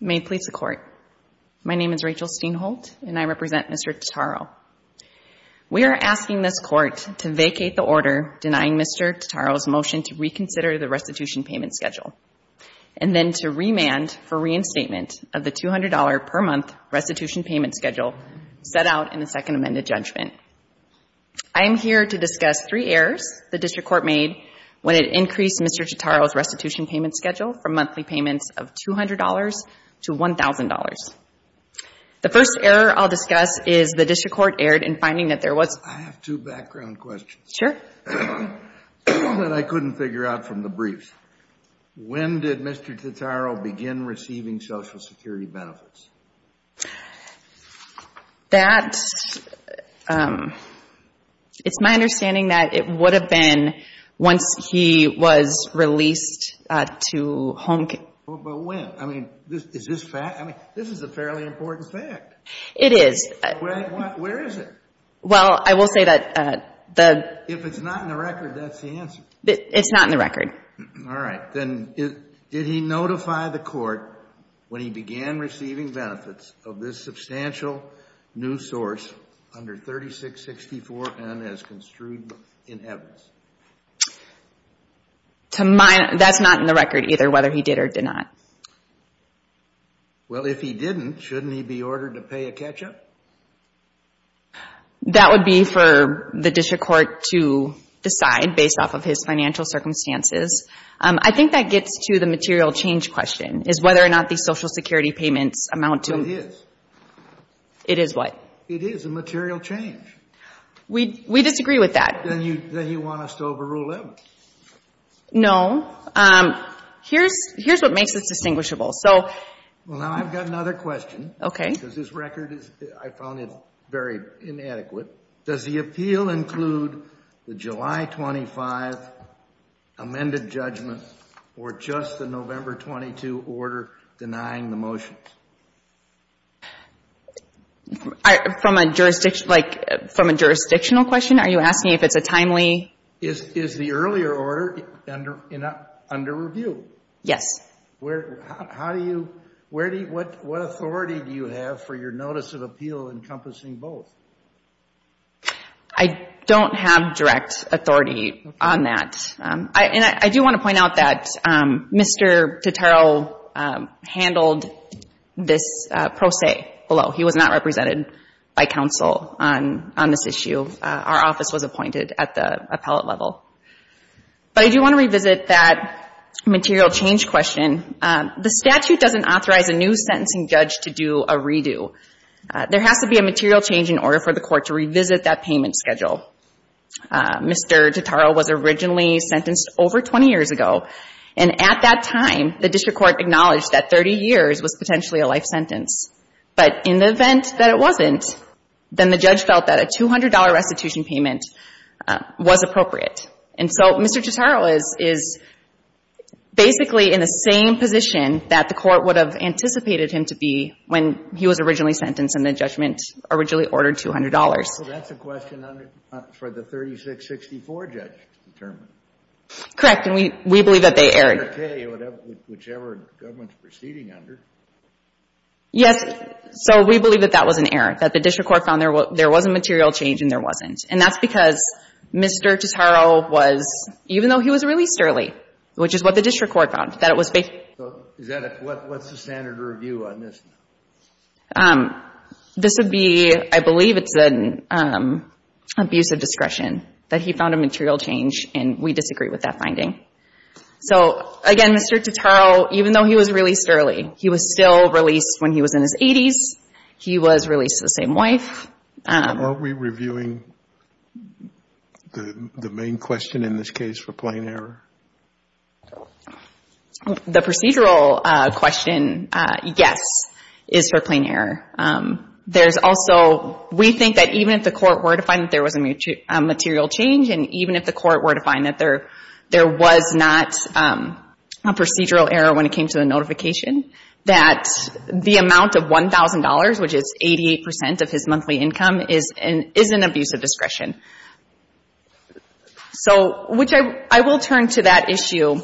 May it please the Court. My name is Rachel Steinholt, and I represent Mr. Totaro. We are asking this Court to vacate the order denying Mr. Totaro's motion to reconsider the restitution payment schedule, and then to remand for reinstatement of the $200-per-month restitution payment schedule set out in the Second Amended Judgment. I am here to discuss three errors the District Court made when it increased Mr. Totaro's restitution payment schedule from monthly payments of $200 to $1,000. The first error I'll discuss is the District Court erred in finding that there was — I have two background questions. Sure. One that I couldn't figure out from the briefs. When did Mr. Totaro begin receiving Social Security benefits? That's — it's my understanding that it would have been once he was released to home — But when? I mean, is this fact — I mean, this is a fairly important fact. It is. Where is it? Well, I will say that the — If it's not in the record, that's the answer. It's not in the record. All right. Then did he notify the court when he began receiving benefits of this substantial new source under 3664N as construed in evidence? To my — that's not in the record either, whether he did or did not. Well, if he didn't, shouldn't he be ordered to pay a catch-up? That would be for the District Court to decide based off of his financial circumstances. I think that gets to the material change question, is whether or not the Social Security payments amount to — It is. It is what? It is a material change. We disagree with that. Then you want us to overrule it? No. Here's what makes this distinguishable. So — Well, now I've got another question. Okay. Because this record is — I found it very inadequate. Does the appeal include the July 25th amended judgment or just the November 22 order denying the motions? From a jurisdiction — like, from a jurisdictional question, are you asking if it's a timely — Is the earlier order under review? Yes. How do you — where do you — what authority do you have for your notice of appeal encompassing both? I don't have direct authority on that. And I do want to point out that Mr. Tutero handled this pro se below. He was not represented by counsel on this issue. Our office was appointed at the appellate level. But I do want to revisit that material change question. The statute doesn't authorize a new sentencing judge to do a redo. There has to be a material change in order for the court to revisit that payment schedule. Mr. Tutero was originally sentenced over 20 years ago. And at that time, the district court acknowledged that 30 years was potentially a life sentence. But in the event that it wasn't, then the judge felt that a $200 restitution payment was appropriate. And so Mr. Tutero is basically in the same position that the court would have anticipated him to be when he was originally sentenced and the judgment originally ordered $200. Well, that's a question for the 3664 judge to determine. Correct. And we believe that they erred. Whichever government's proceeding under. Yes. So we believe that that was an error, that the district court found there was a material change and there wasn't. And that's because Mr. Tutero was, even though he was released early, which is what the district court found, that it was basically. So is that a, what's the standard review on this? This would be, I believe it's an abuse of discretion, that he found a material change. And we disagree with that finding. So, again, Mr. Tutero, even though he was released early, he was still released when he was in his 80s. He was released to the same wife. Aren't we reviewing the main question in this case for plain error? The procedural question, yes, is for plain error. There's also, we think that even if the court were to find that there was a material change and even if the court were to find that there was not a procedural error when it came to the notification, that the amount of $1,000, which is 88% of his monthly income, is an abuse of discretion. So, which I will turn to that issue.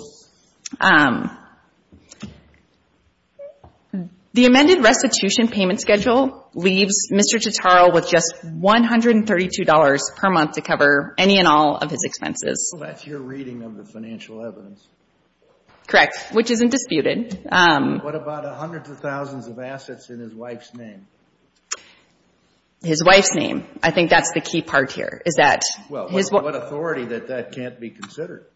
The amended restitution payment schedule leaves Mr. Tutero with just $132 per month to cover any and all of his expenses. Well, that's your reading of the financial evidence. Correct, which isn't disputed. What about hundreds of thousands of assets in his wife's name? His wife's name. I think that's the key part here, is that his wife's name. Well, what authority that that can't be considered?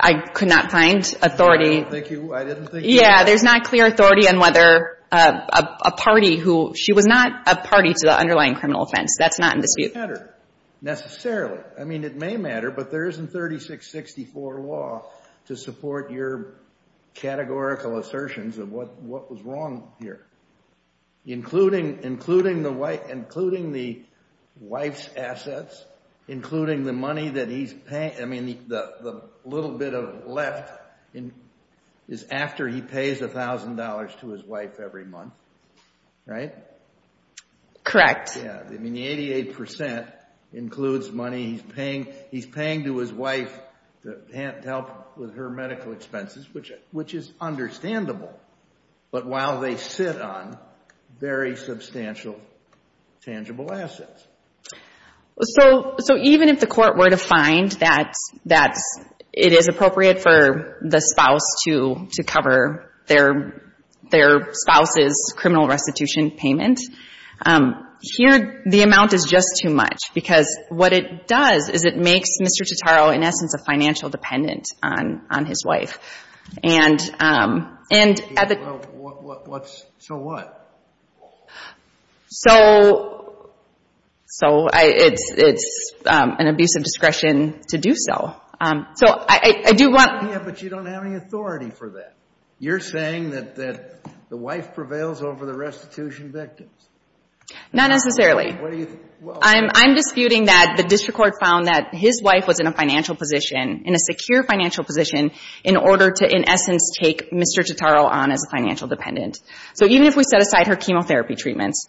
I could not find authority. I don't think you, I didn't think you could. Yeah, there's not clear authority on whether a party who, she was not a party to the underlying criminal offense. That's not in dispute. It doesn't matter, necessarily. I mean, it may matter, but there isn't 3664 law to support your categorical assertions of what was wrong here. Including the wife's assets, including the money that he's paying. I mean, the little bit of left is after he pays $1,000 to his wife every month, right? Correct. Yeah, I mean, the 88% includes money he's paying to his wife to help with her medical expenses, which is understandable. But while they sit on very substantial, tangible assets. So, even if the court were to find that it is appropriate for the spouse to cover their spouse's criminal restitution payment, here the amount is just too much. Because what it does is it makes Mr. Totaro, in essence, a financial dependent on his wife. So what? So, it's an abuse of discretion to do so. Yeah, but you don't have any authority for that. You're saying that the wife prevails over the restitution victims. Not necessarily. I'm disputing that the district court found that his wife was in a financial position, in a secure financial position, in order to, in essence, take Mr. Totaro on as a financial dependent. So, even if we set aside her chemotherapy treatments,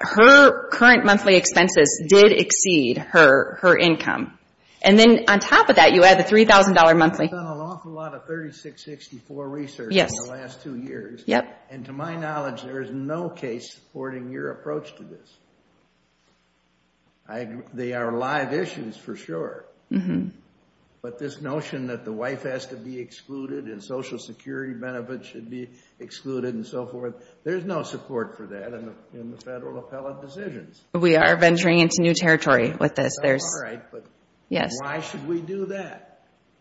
her current monthly expenses did exceed her income. And then, on top of that, you add the $3,000 monthly. I've done an awful lot of 3664 research in the last two years. And to my knowledge, there is no case supporting your approach to this. They are live issues, for sure. But this notion that the wife has to be excluded and social security benefits should be excluded and so forth, there's no support for that in the federal appellate decisions. We are venturing into new territory with this. That's all right, but why should we do that?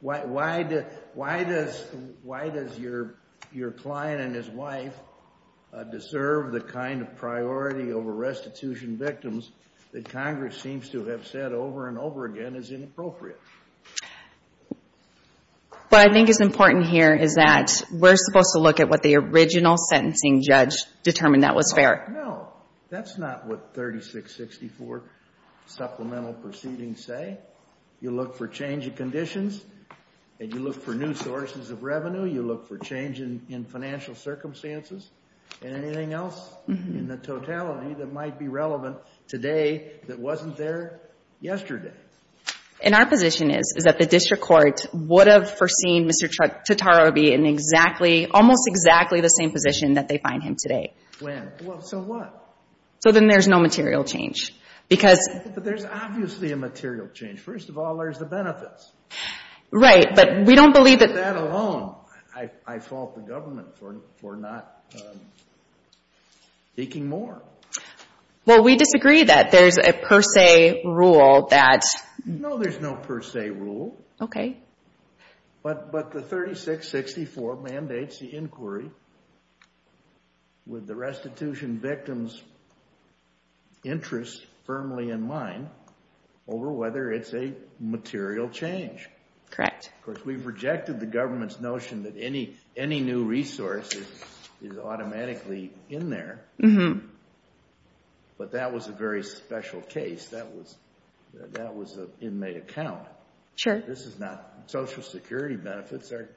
Why does your client and his wife deserve the kind of priority over restitution victims that Congress seems to have said over and over again is inappropriate? What I think is important here is that we're supposed to look at what the original sentencing judge determined that was fair. No. That's not what 3664 supplemental proceedings say. You look for change of conditions, and you look for new sources of revenue, you look for change in financial circumstances, and anything else in the totality that might be relevant today that wasn't there yesterday. And our position is that the district court would have foreseen Mr. Tartaroby in exactly, almost exactly the same position that they find him today. When? Well, so what? So then there's no material change. But there's obviously a material change. First of all, there's the benefits. Right, but we don't believe that. I fault the government for not seeking more. Well, we disagree that there's a per se rule that... No, there's no per se rule. Okay. But the 3664 mandates the inquiry with the restitution victims' interests firmly in mind over whether it's a material change. Correct. Of course, we've rejected the government's notion that any new resource is automatically in there, but that was a very special case. That was an inmate account. Sure. This is not Social Security benefits. They're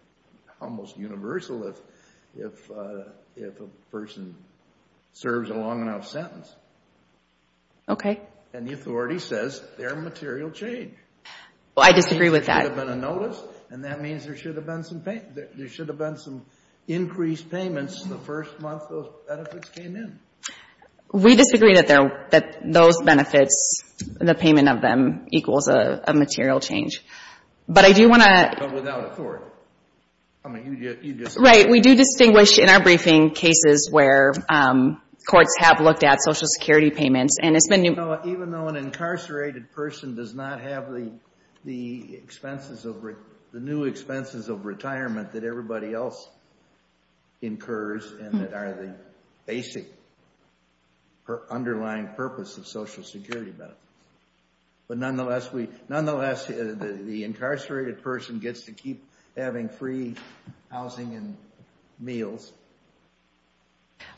almost universal if a person serves a long enough sentence. Okay. And the authority says they're a material change. Well, I disagree with that. There should have been a notice, and that means there should have been some increased payments the first month those benefits came in. We disagree that those benefits, the payment of them, equals a material change. But I do want to... But without authority. Right. We do distinguish in our briefing cases where courts have looked at Social Security payments. Even though an incarcerated person does not have the new expenses of retirement that everybody else incurs and that are the basic underlying purpose of Social Security benefits. But nonetheless, the incarcerated person gets to keep having free housing and meals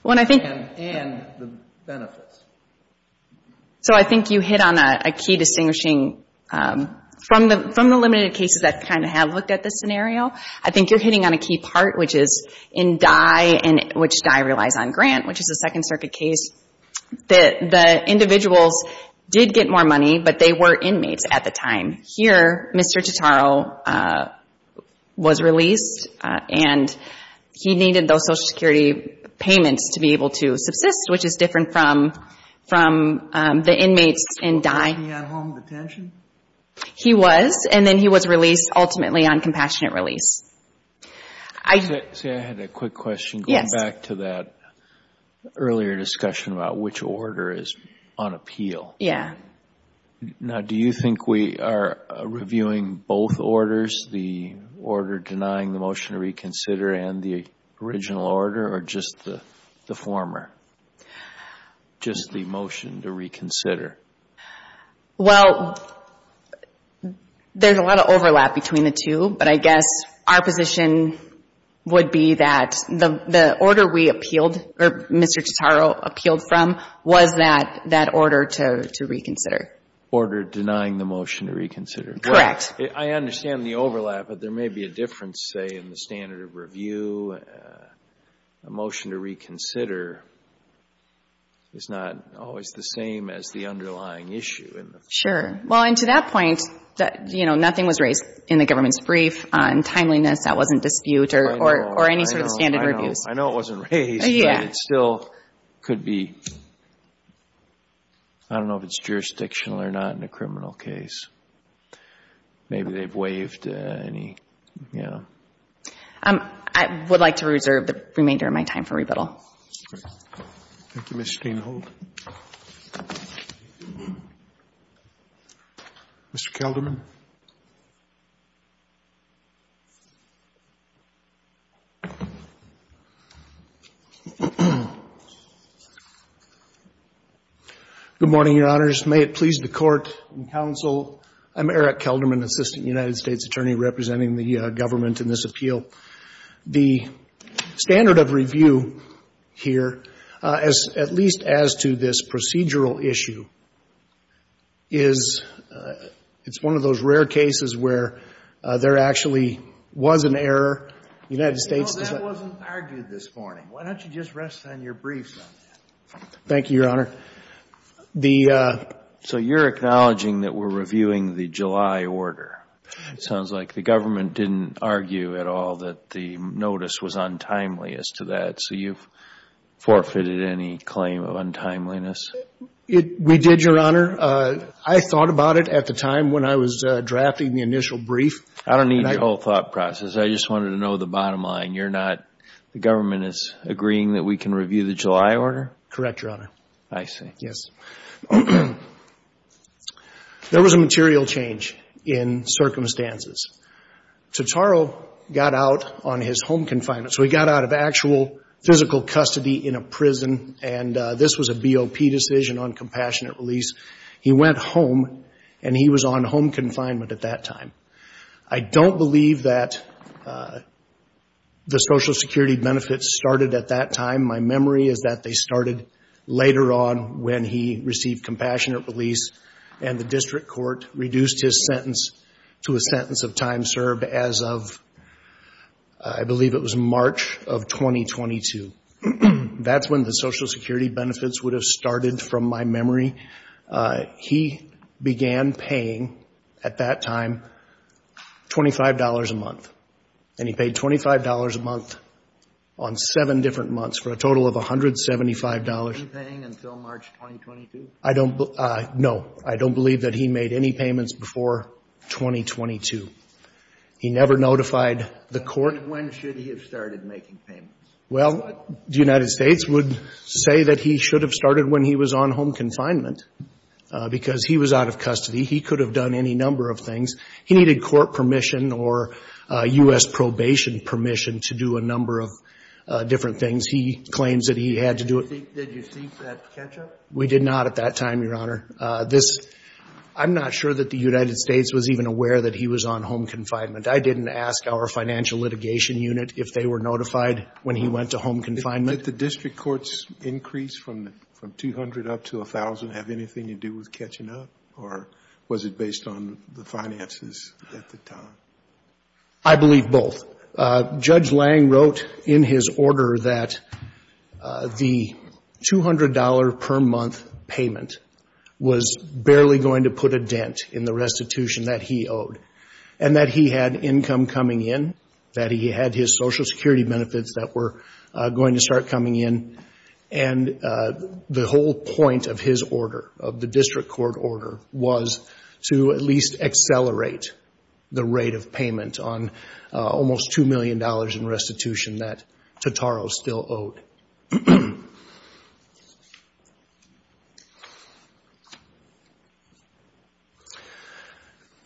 and the benefits. So I think you hit on a key distinguishing... From the limited cases that kind of have looked at this scenario, I think you're hitting on a key part, which is in Dye, which Dye relies on grant, which is a Second Circuit case, that the individuals did get more money, but they were inmates at the time. Here, Mr. Totaro was released, and he needed those Social Security payments to be able to subsist, which is different from the inmates in Dye. Was he at home detention? He was, and then he was released ultimately on compassionate release. Say, I had a quick question. Yes. Going back to that earlier discussion about which order is on appeal. Yeah. Now, do you think we are reviewing both orders, just the order denying the motion to reconsider and the original order, or just the former, just the motion to reconsider? Well, there's a lot of overlap between the two, but I guess our position would be that the order we appealed, or Mr. Totaro appealed from, was that order to reconsider. Order denying the motion to reconsider. Correct. I understand the overlap, but there may be a difference, say, in the standard of review. A motion to reconsider is not always the same as the underlying issue. Sure. Well, and to that point, you know, nothing was raised in the government's brief on timeliness. That wasn't dispute or any sort of standard reviews. I know it wasn't raised, but it still could be. I don't know if it's jurisdictional or not in a criminal case. Maybe they've waived any, you know. I would like to reserve the remainder of my time for rebuttal. Thank you, Ms. Steenhold. Mr. Kelderman. Good morning, Your Honors. May it please the Court and counsel, I'm Eric Kelderman, Assistant United States Attorney representing the government in this appeal. The standard of review here, at least as to this procedural issue, is it's one of those rare cases where there actually was an error. The United States is a — Well, that wasn't argued this morning. Why don't you just rest on your brief? Thank you, Your Honor. The — So you're acknowledging that we're reviewing the July order. It sounds like the government didn't argue at all that the notice was untimely as to that. So you've forfeited any claim of untimeliness? We did, Your Honor. I thought about it at the time when I was drafting the initial brief. I don't need your whole thought process. I just wanted to know the bottom line. You're not — the government is agreeing that we can review the July order? Correct, Your Honor. I see. Yes. There was a material change in circumstances. Totaro got out on his home confinement. So he got out of actual physical custody in a prison, and this was a BOP decision, uncompassionate release. He went home, and he was on home confinement at that time. I don't believe that the Social Security benefits started at that time. My memory is that they started later on when he received compassionate release, and the district court reduced his sentence to a sentence of time served as of, I believe it was March of 2022. That's when the Social Security benefits would have started, from my memory. He began paying, at that time, $25 a month. And he paid $25 a month on seven different months for a total of $175. Was he paying until March 2022? I don't — no. I don't believe that he made any payments before 2022. He never notified the court. When should he have started making payments? Well, the United States would say that he should have started when he was on home confinement because he was out of custody. He could have done any number of things. He needed court permission or U.S. probation permission to do a number of different things. He claims that he had to do it. Did you seek that catch-up? We did not at that time, Your Honor. This — I'm not sure that the United States was even aware that he was on home confinement. I didn't ask our financial litigation unit if they were notified when he went to home confinement. Did the district court's increase from 200 up to 1,000 have anything to do with catching up? Or was it based on the finances at the time? I believe both. Judge Lange wrote in his order that the $200-per-month payment was barely going to put a dent in the restitution that he owed and that he had income coming in, that he had his Social Security benefits that were going to start coming in. And the whole point of his order, of the district court order, was to at least accelerate the rate of payment on almost $2 million in restitution that Totaro still owed.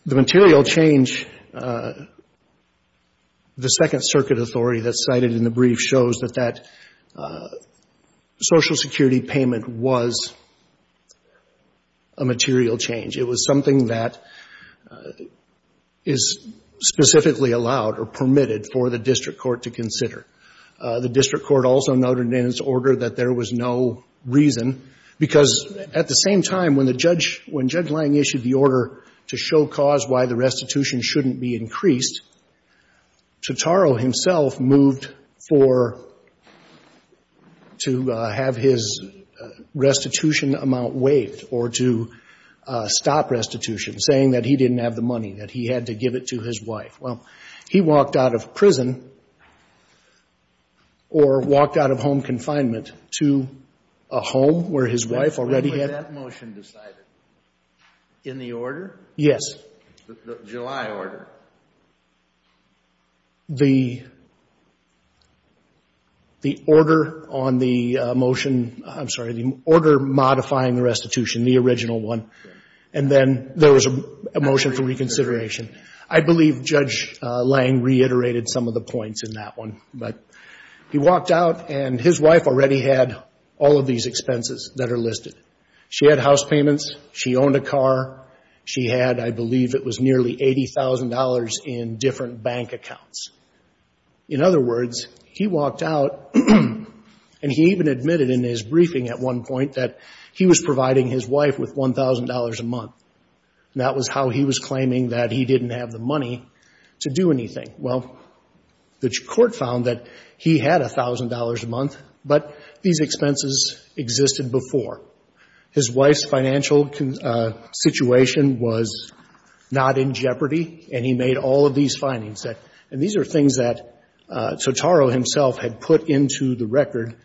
The material change, the Second Circuit authority that's cited in the brief shows that that Social Security payment was a material change. It was something that is specifically allowed or permitted for the district court to consider. The district court also noted in its order that there was no reason, because at the same time, when the judge — when Judge Lange issued the order to show cause why the restitution shouldn't be increased, Totaro himself moved for — to have his restitution amount waived or to stop restitution, saying that he didn't have the money, that he had to give it to his wife. Well, he walked out of prison or walked out of home confinement to a home where his wife already had — When was that motion decided? In the order? Yes. The July order. The order on the motion — I'm sorry, the order modifying the restitution, the original one. And then there was a motion for reconsideration. I believe Judge Lange reiterated some of the points in that one. But he walked out, and his wife already had all of these expenses that are listed. She had house payments. She owned a car. She had, I believe, it was nearly $80,000 in different bank accounts. In other words, he walked out, and he even admitted in his briefing at one point that he was providing his wife with $1,000 a month. And that was how he was claiming that he didn't have the money to do anything. Well, the Court found that he had $1,000 a month, but these expenses existed before. His wife's financial situation was not in jeopardy, and he made all of these findings. And these are things that Totaro himself had put into the record,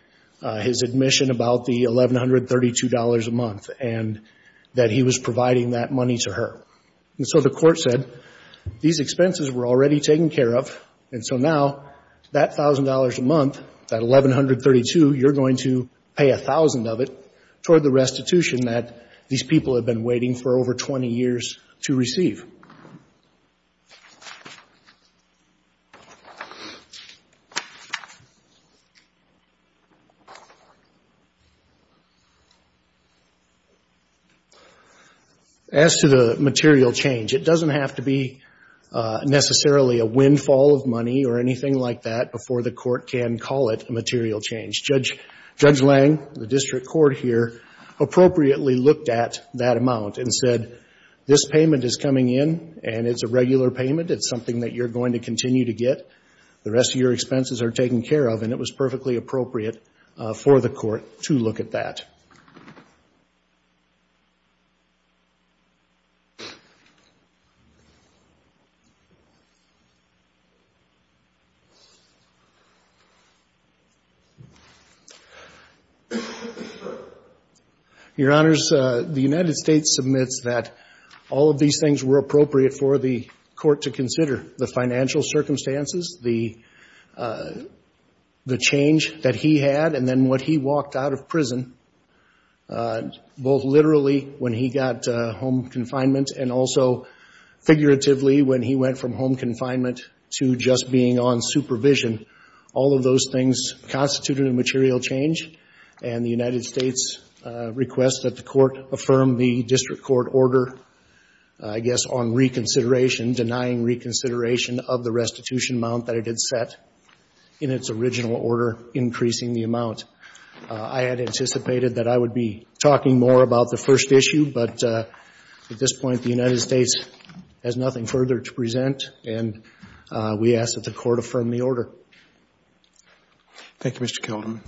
his admission about the $1,132 a month, and that he was providing that money to her. And so the Court said these expenses were already taken care of, and so now that $1,000 a month, that $1,132, you're going to pay $1,000 of it toward the restitution that these people had been waiting for over 20 years to receive. As to the material change, it doesn't have to be necessarily a windfall of money or anything like that before the Court can call it a material change. Judge Lange, the district court here, appropriately looked at that amount and said, this payment is coming in, and it's a regular payment. It's something that you're going to continue to get. The rest of your expenses are taken care of, and it was perfectly appropriate for the Court to look at that. Your Honors, the United States submits that all of these things were appropriate for the Court to consider, the financial circumstances, the change that he had, and then what he walked out of prison, both literally when he got home confinement and also figuratively when he went from home confinement to just being on supervision. All of those things constituted a material change, and the United States requests that the Court affirm the district court order, I guess, on reconsideration, denying reconsideration of the restitution amount that it had set in its original order, increasing the amount. I had anticipated that I would be talking more about the first issue, but at this point, the United States has nothing further to present, and we ask that the Court affirm the order. Thank you, Mr. Kelderman.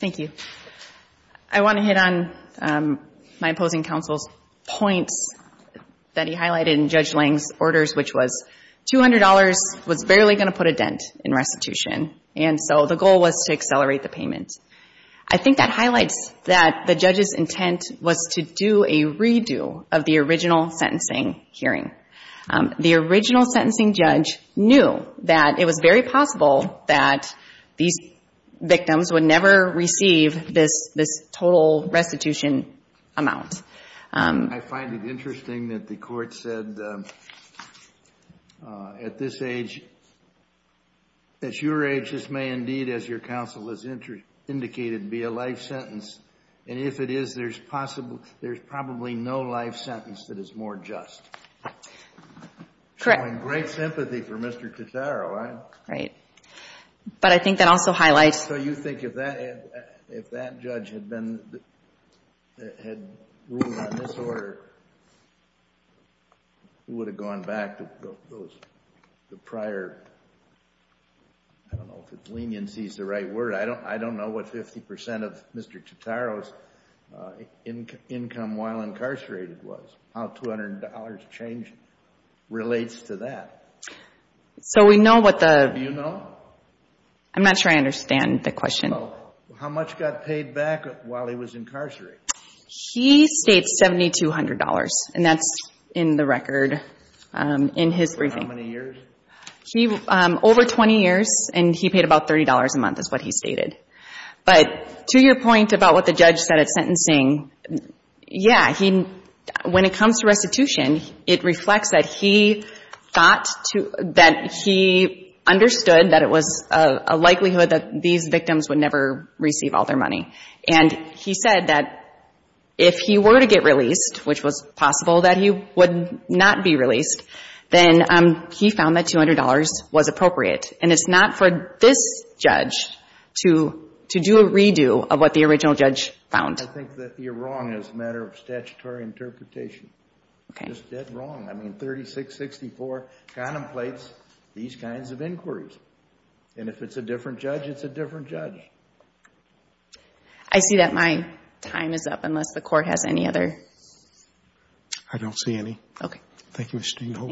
Thank you. I want to hit on my opposing counsel's points that he highlighted in Judge Lang's orders, which was $200 was barely going to put a dent in restitution, and so the goal was to accelerate the payment. I think that highlights that the judge's intent was to do a redo of the original sentencing hearing. The original sentencing judge knew that it was very possible that these victims would never receive this total restitution amount. I find it interesting that the Court said at this age, at your age, this may indeed, as your counsel has indicated, be a life sentence, and if it is, there's probably no life sentence that is more just. Correct. Showing great sympathy for Mr. Totaro. Right. But I think that also highlights. So you think if that judge had ruled on this order, it would have gone back to those prior, I don't know if leniency is the right word. I don't know what 50% of Mr. Totaro's income while incarcerated was, how $200 change relates to that. So we know what the. Do you know? I'm not sure I understand the question. How much got paid back while he was incarcerated? He states $7,200, and that's in the record in his briefing. How many years? Over 20 years, and he paid about $30 a month is what he stated. But to your point about what the judge said at sentencing, yeah, when it comes to restitution, it reflects that he understood that it was a likelihood that these victims would never receive all their money. And he said that if he were to get released, which was possible that he would not be released, then he found that $200 was appropriate. And it's not for this judge to do a redo of what the original judge found. I think that you're wrong as a matter of statutory interpretation. You're just dead wrong. I mean, 3664 contemplates these kinds of inquiries. And if it's a different judge, it's a different judge. I see that my time is up unless the court has any other. I don't see any. Okay. Thank you, Ms. Steenhofer.